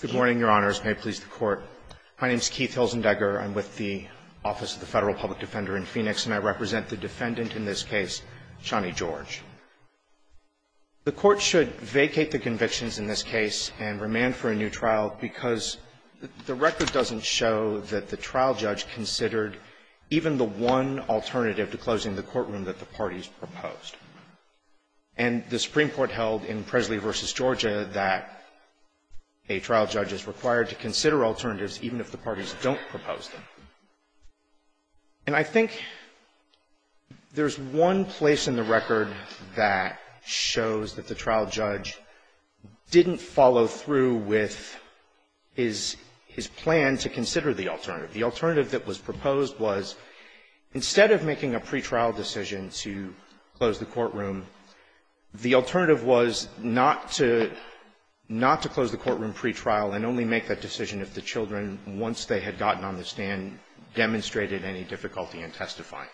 Good morning, Your Honors. May it please the Court. My name is Keith Hilzendegger. I'm with the Office of the Federal Public Defender in Phoenix, and I represent the defendant in this case, Shonnie George. The Court should vacate the convictions in this case and remand for a new trial because the record doesn't show that the trial judge considered even the one alternative to closing the courtroom that the parties proposed. And the Supreme Court held in Presley v. Georgia that a trial judge is required to consider alternatives even if the parties don't propose them. And I think there's one place in the record that shows that the trial judge didn't follow through with his plan to consider the alternative. The alternative that was proposed was, instead of making a pretrial decision to close the courtroom, the alternative was not to close the courtroom pretrial and only make that decision if the children, once they had gotten on the stand, demonstrated any difficulty in testifying.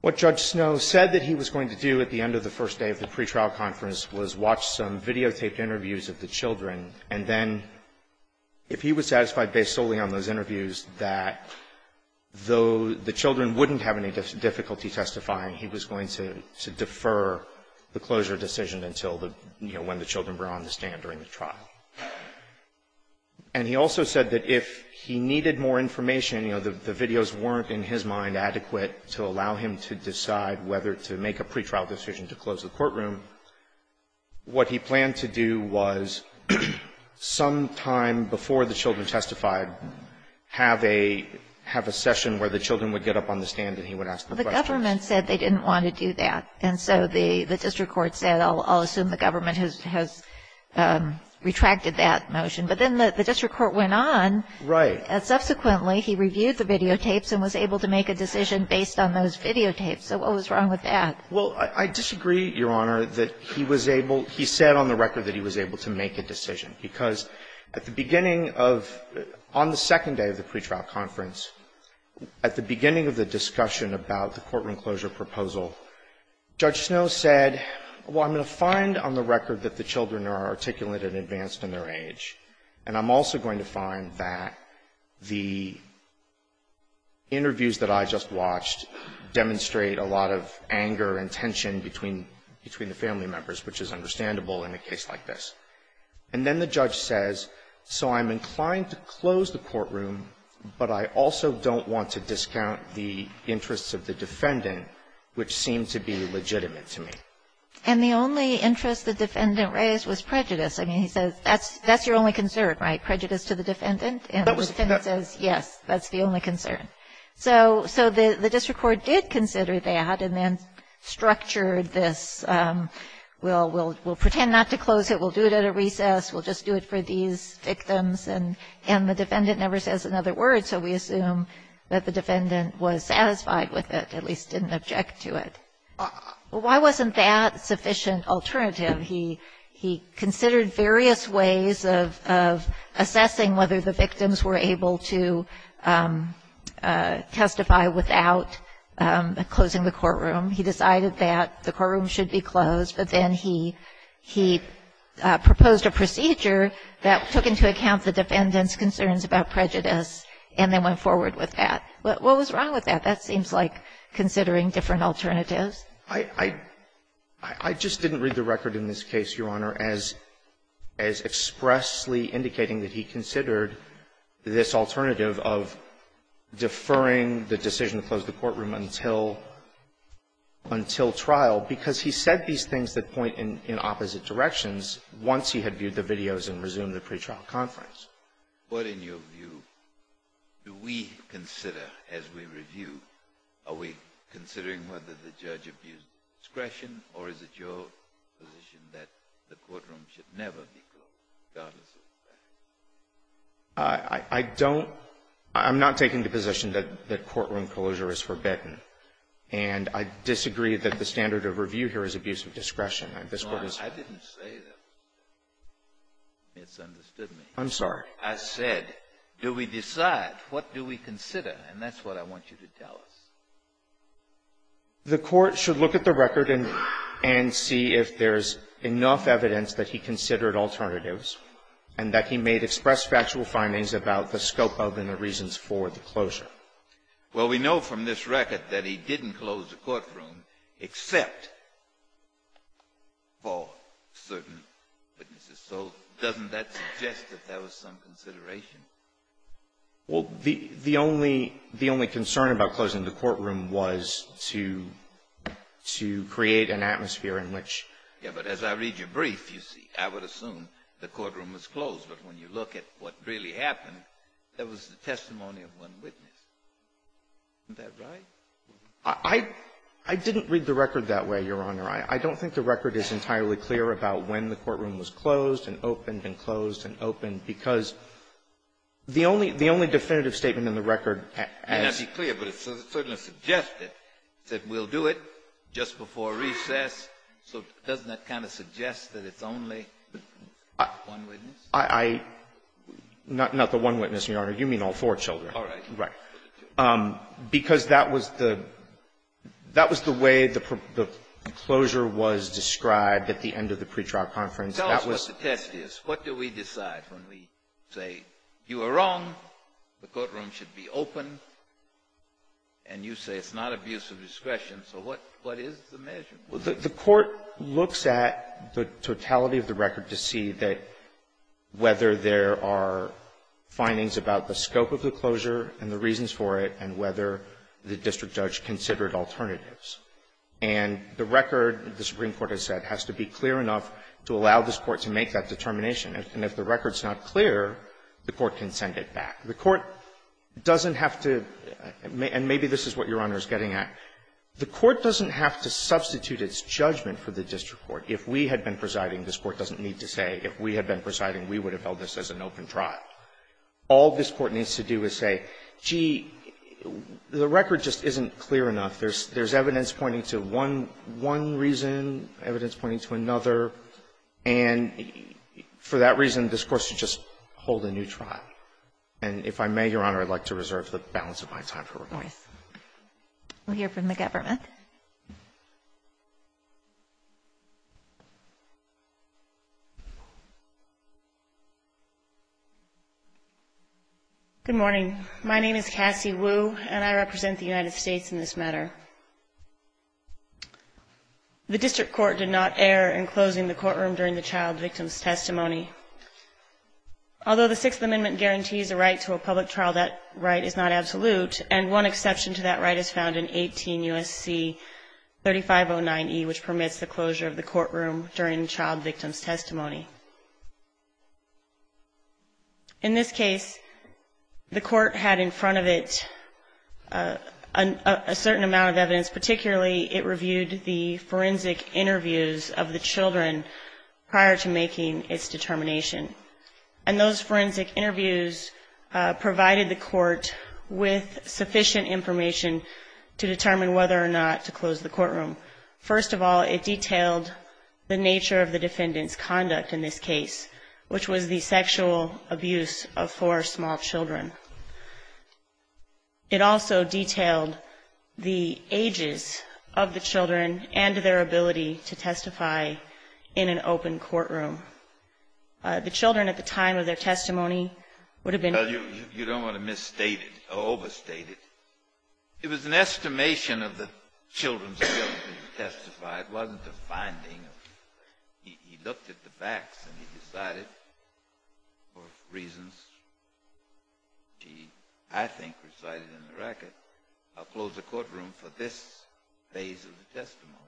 What Judge Snow said that he was going to do at the end of the first day of the pretrial conference was watch some videotaped interviews of the children, and then, if he was satisfied based solely on those interviews, that though the children wouldn't have any difficulty testifying, he was going to defer the closure decision until the, you know, when the children were on the stand during the trial. And he also said that if he needed more information, you know, the videos weren't in his mind adequate to allow him to decide whether to make a pretrial decision to close the courtroom, what he planned to do was, sometime before the children testified, have a session where the children would get up on the stand and he would ask the questions. Well, the government said they didn't want to do that. And so the district court said, I'll assume the government has retracted that motion. But then the district court went on. Right. And subsequently, he reviewed the videotapes and was able to make a decision based on those videotapes. So what was wrong with that? Well, I disagree, Your Honor, that he was able, he said on the record that he was able to make a decision. Because at the beginning of, on the second day of the pretrial conference, at the beginning of the discussion about the courtroom closure proposal, Judge Snow said, well, I'm going to find on the record that the children are articulate and advanced in their age. And I'm also going to find that the interviews that I just watched demonstrate a lot of anger and tension between the family members, which is understandable in a case like this. And then the judge says, so I'm inclined to close the courtroom, but I also don't want to discount the interests of the defendant, which seem to be legitimate to me. And the only interest the defendant raised was prejudice. I mean, he says, that's your only concern, right, prejudice to the defendant? And the defendant says, yes, that's the only concern. So the district court did consider that and then structured this, we'll pretend not to close it, we'll do it at a recess, we'll just do it for these victims, and the defendant never says another word, so we assume that the defendant was satisfied with it, at least didn't object to it. Why wasn't that sufficient alternative? He considered various ways of assessing whether the victims were able to testify without closing the courtroom. He decided that the courtroom should be closed, but then he proposed a procedure that took into account the defendant's concerns about prejudice and then went forward with that. What was wrong with that? That seems like considering different alternatives. I just didn't read the record in this case, Your Honor, as expressly indicating that he considered this alternative of deferring the decision to close the courtroom until trial, because he said these things that point in opposite directions once he had viewed the videos and resumed the pretrial conference. What, in your view, do we consider as we review? Are we considering whether the judge abused discretion, or is it your position that the courtroom should never be closed, regardless of the defendant? I don't – I'm not taking the position that courtroom closure is forbidden. And I disagree that the standard of review here is abuse of discretion. I disagree with that. No, I didn't say that. You misunderstood me. I'm sorry. I said, do we decide? What do we consider? And that's what I want you to tell us. The Court should look at the record and see if there's enough evidence that he considered alternatives and that he may express factual findings about the scope of and the reasons for the closure. Well, we know from this record that he didn't close the courtroom except for certain witnesses. So doesn't that suggest that there was some consideration? Well, the only concern about closing the courtroom was to create an atmosphere in which — Yes, but as I read your brief, you see, I would assume the courtroom was closed. But when you look at what really happened, that was the testimony of one witness. Isn't that right? I didn't read the record that way, Your Honor. I don't think the record is entirely clear about when the courtroom was closed and opened because the only definitive statement in the record as — It may not be clear, but it certainly suggested that we'll do it just before recess. So doesn't that kind of suggest that it's only one witness? I — not the one witness, Your Honor. You mean all four children. All right. Right. Because that was the — that was the way the closure was described at the end of the pretrial conference. Tell us what the test is. What do we decide when we say you are wrong, the courtroom should be open, and you say it's not abuse of discretion. So what is the measure? Well, the Court looks at the totality of the record to see that whether there are findings about the scope of the closure and the reasons for it and whether the district judge considered alternatives. And the record, the Supreme Court has said, has to be clear enough to allow this Court to make that determination. And if the record is not clear, the Court can send it back. The Court doesn't have to — and maybe this is what Your Honor is getting at. The Court doesn't have to substitute its judgment for the district court. If we had been presiding, this Court doesn't need to say, if we had been presiding, we would have held this as an open trial. All this Court needs to do is say, gee, the record just isn't clear enough. There's evidence pointing to one reason, evidence pointing to another. And for that reason, this Court should just hold a new trial. And if I may, Your Honor, I'd like to reserve the balance of my time for remarks. We'll hear from the government. Good morning. My name is Cassie Wu, and I represent the United States in this matter. The district court did not err in closing the courtroom during the child victim's testimony. Although the Sixth Amendment guarantees a right to a public trial, that right is not absolute, and one exception to that right is found in 18 U.S.C. 3509E, which permits the closure of the courtroom during child victim's testimony. In this case, the Court had in front of it a certain amount of evidence, particularly it reviewed the forensic interviews of the children prior to making its determination. And those forensic interviews provided the Court with sufficient information to determine whether or not to close the courtroom. First of all, it detailed the nature of the defendant's conduct in this case, which was the sexual abuse of four small children. It also detailed the ages of the children and their ability to testify in an open courtroom. The children at the time of their testimony would have been ---- Well, you don't want to misstate it or overstate it. It was an estimation of the children's ability to testify. It wasn't a finding. He looked at the facts and he decided for reasons he, I think, recited in the record, I'll close the courtroom for this phase of the testimony.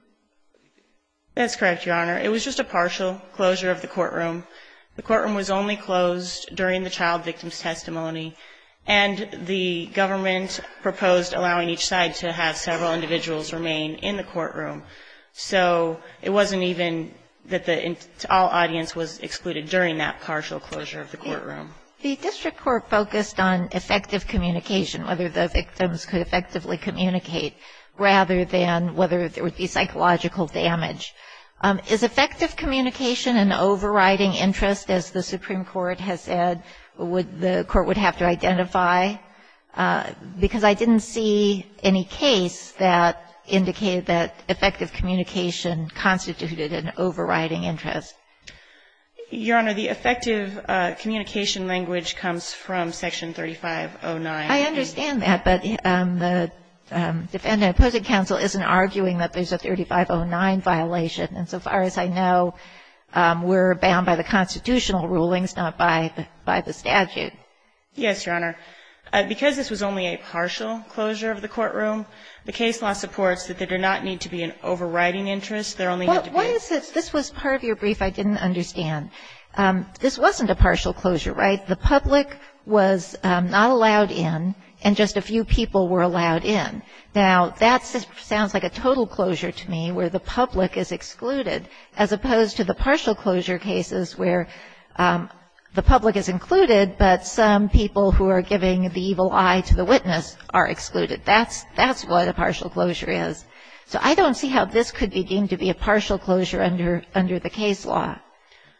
That's correct, Your Honor. It was just a partial closure of the courtroom. The courtroom was only closed during the child victim's testimony, and the government proposed allowing each side to have several individuals remain in the courtroom. So it wasn't even that all audience was excluded during that partial closure of the courtroom. The district court focused on effective communication, whether the victims could effectively communicate, rather than whether there would be psychological damage. Is effective communication an overriding interest, as the Supreme Court has said, that the court would have to identify? Because I didn't see any case that indicated that effective communication constituted an overriding interest. Your Honor, the effective communication language comes from Section 3509. I understand that, but the defendant opposing counsel isn't arguing that there's a 3509 violation. And so far as I know, we're bound by the constitutional rulings, not by the statute. Yes, Your Honor. Because this was only a partial closure of the courtroom, the case law supports that there did not need to be an overriding interest. There only had to be a ---- What is this? This was part of your brief. I didn't understand. This wasn't a partial closure, right? The public was not allowed in, and just a few people were allowed in. Now, that sounds like a total closure to me, where the public is excluded, as opposed to the partial closure cases where the public is included, but some people who are giving the evil eye to the witness are excluded. That's what a partial closure is. So I don't see how this could be deemed to be a partial closure under the case law.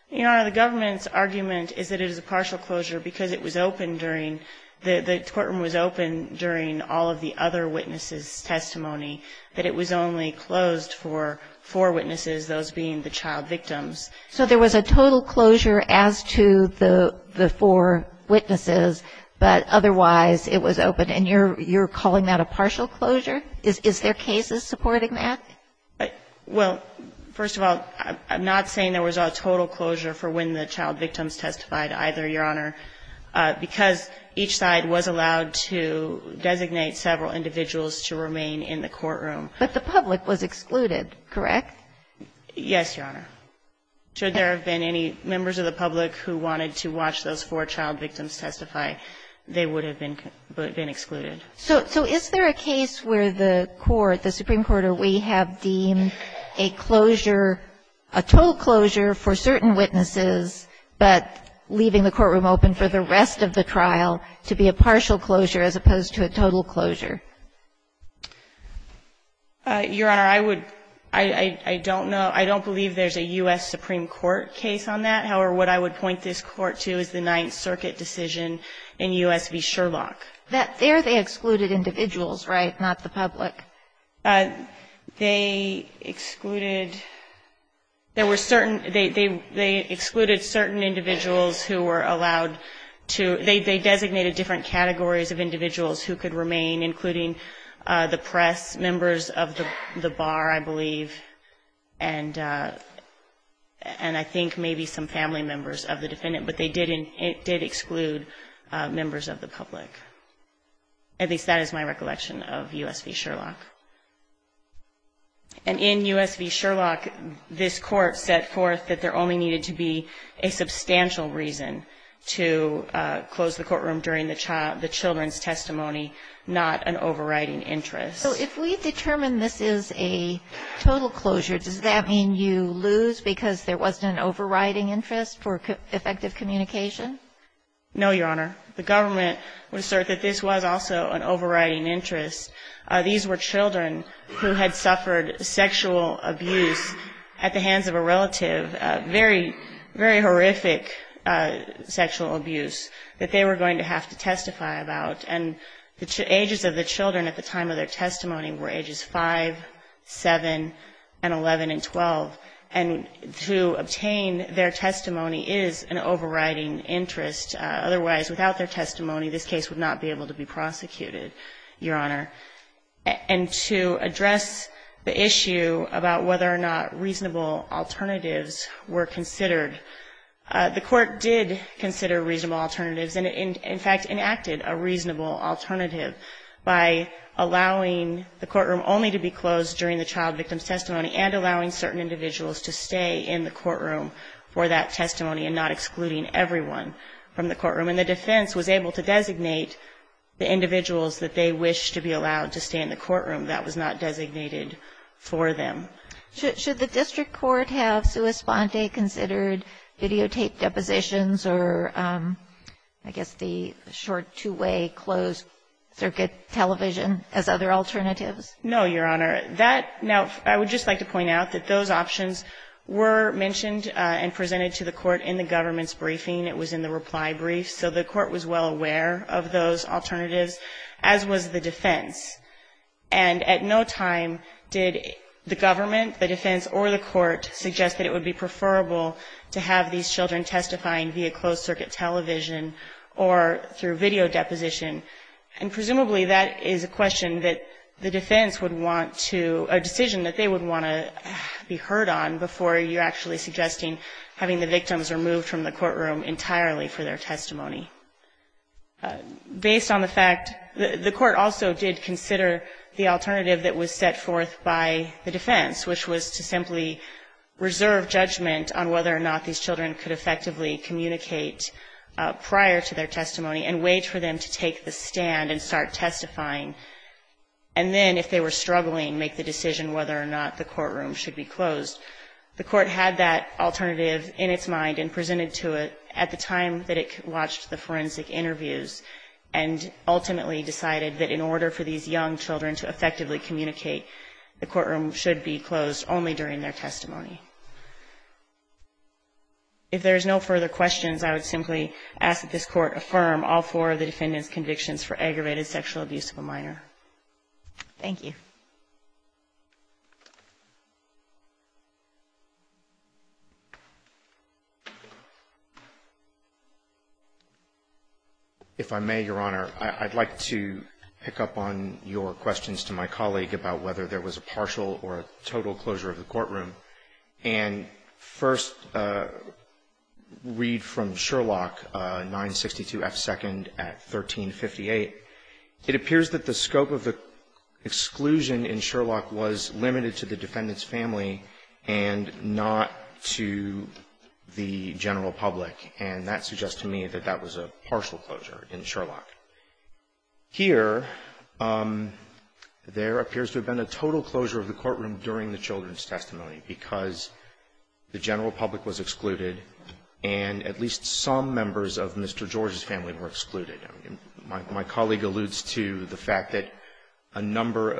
Your Honor, the government's argument is that it is a partial closure because it was open during, the courtroom was open during all of the other witnesses' testimony, that it was only closed for four witnesses, those being the child victims. So there was a total closure as to the four witnesses, but otherwise it was open, and you're calling that a partial closure? Is there cases supporting that? Well, first of all, I'm not saying there was a total closure for when the child victims testified either, Your Honor, because each side was allowed to designate several individuals to remain in the courtroom. But the public was excluded, correct? Yes, Your Honor. Should there have been any members of the public who wanted to watch those four child victims testify, they would have been excluded. So is there a case where the court, the Supreme Court, or we have deemed a closure, a total closure for certain witnesses, but leaving the courtroom open for the rest of the trial to be a partial closure as opposed to a total closure? Your Honor, I would, I don't know, I don't believe there's a U.S. Supreme Court case on that. However, what I would point this Court to is the Ninth Circuit decision in U.S. v. Sherlock. There they excluded individuals, right, not the public? They excluded, there were certain, they excluded certain individuals who were allowed to, they designated different categories of individuals who could remain, including the press members of the bar, I believe, and I think maybe some family members of the defendant, but they did exclude members of the public. At least that is my recollection of U.S. v. Sherlock. And in U.S. v. Sherlock, this Court set forth that there only needed to be a substantial reason to close the courtroom during the child, the children's testimony, not an overriding interest. So if we determine this is a total closure, does that mean you lose because there wasn't an overriding interest for effective communication? No, Your Honor. The government would assert that this was also an overriding interest. These were children who had suffered sexual abuse at the hands of a relative, very horrific sexual abuse that they were going to have to testify about. And the ages of the children at the time of their testimony were ages 5, 7, and 11 and 12. And to obtain their testimony is an overriding interest. Otherwise, without their testimony, this case would not be able to be prosecuted, Your Honor. And to address the issue about whether or not reasonable alternatives were considered, the Court did consider reasonable alternatives and in fact enacted a reasonable alternative by allowing the courtroom only to be closed during the child victim's testimony and allowing certain individuals to stay in the courtroom for that testimony and not excluding everyone from the courtroom. And the defense was able to designate the individuals that they wished to be allowed to stay in the courtroom. That was not designated for them. Should the district court have sua sponte considered videotape depositions or I guess the short two-way closed circuit television as other alternatives? No, Your Honor. Now, I would just like to point out that those options were mentioned and presented to the court in the government's briefing. It was in the reply brief. So the court was well aware of those alternatives, as was the defense. And at no time did the government, the defense, or the court suggest that it would be preferable to have these children testifying via closed circuit television or through video deposition. And presumably that is a question that the defense would want to, a decision that they would want to be heard on before you're actually suggesting having the victims removed from the courtroom entirely for their testimony. Based on the fact, the court also did consider the alternative that was set forth by the defense, which was to simply reserve judgment on whether or not these children could effectively communicate prior to their testifying and then, if they were struggling, make the decision whether or not the courtroom should be closed. The court had that alternative in its mind and presented to it at the time that it watched the forensic interviews and ultimately decided that in order for these young children to effectively communicate, the courtroom should be closed only during their testimony. If there is no further questions, I would simply ask that this Court affirm all four of the defendant's convictions for aggravated sexual abuse of a minor. Thank you. If I may, Your Honor, I'd like to pick up on your questions to my colleague about whether there was a partial or a total closure of the courtroom. And first, read from Sherlock, 962 F. 2nd at 1358. It appears that the scope of the exclusion in Sherlock was limited to the defendant's family and not to the general public, and that suggests to me that that was a partial closure in Sherlock. Here, there appears to have been a total closure of the courtroom during the children's testimony because the general public was excluded and at least some members of Mr. George's family were excluded. My colleague alludes to the fact that a number,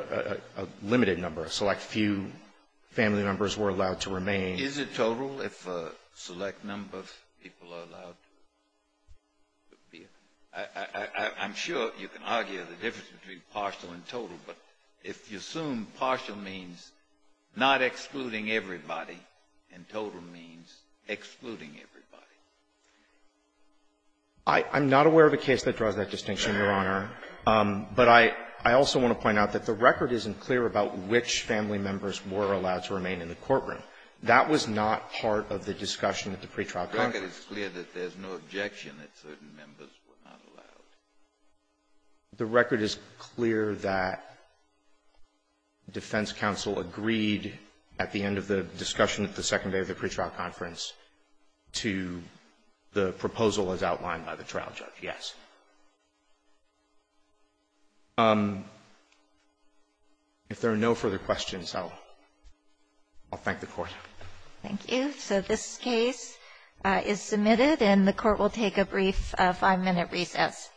a limited number, a select few family members were allowed to remain. I'm sure you can argue the difference between partial and total, but if you assume partial means not excluding everybody and total means excluding everybody. I'm not aware of a case that draws that distinction, Your Honor. But I also want to point out that the record isn't clear about which family members were allowed to remain in the courtroom. That was not part of the discussion at the pretrial conference. The record is clear that there's no objection that certain members were not allowed. The record is clear that defense counsel agreed at the end of the discussion at the second day of the pretrial conference to the proposal as outlined by the trial judge, yes. If there are no further questions, I'll thank the Court. Thank you. So this case is submitted, and the Court will take a brief five-minute recess.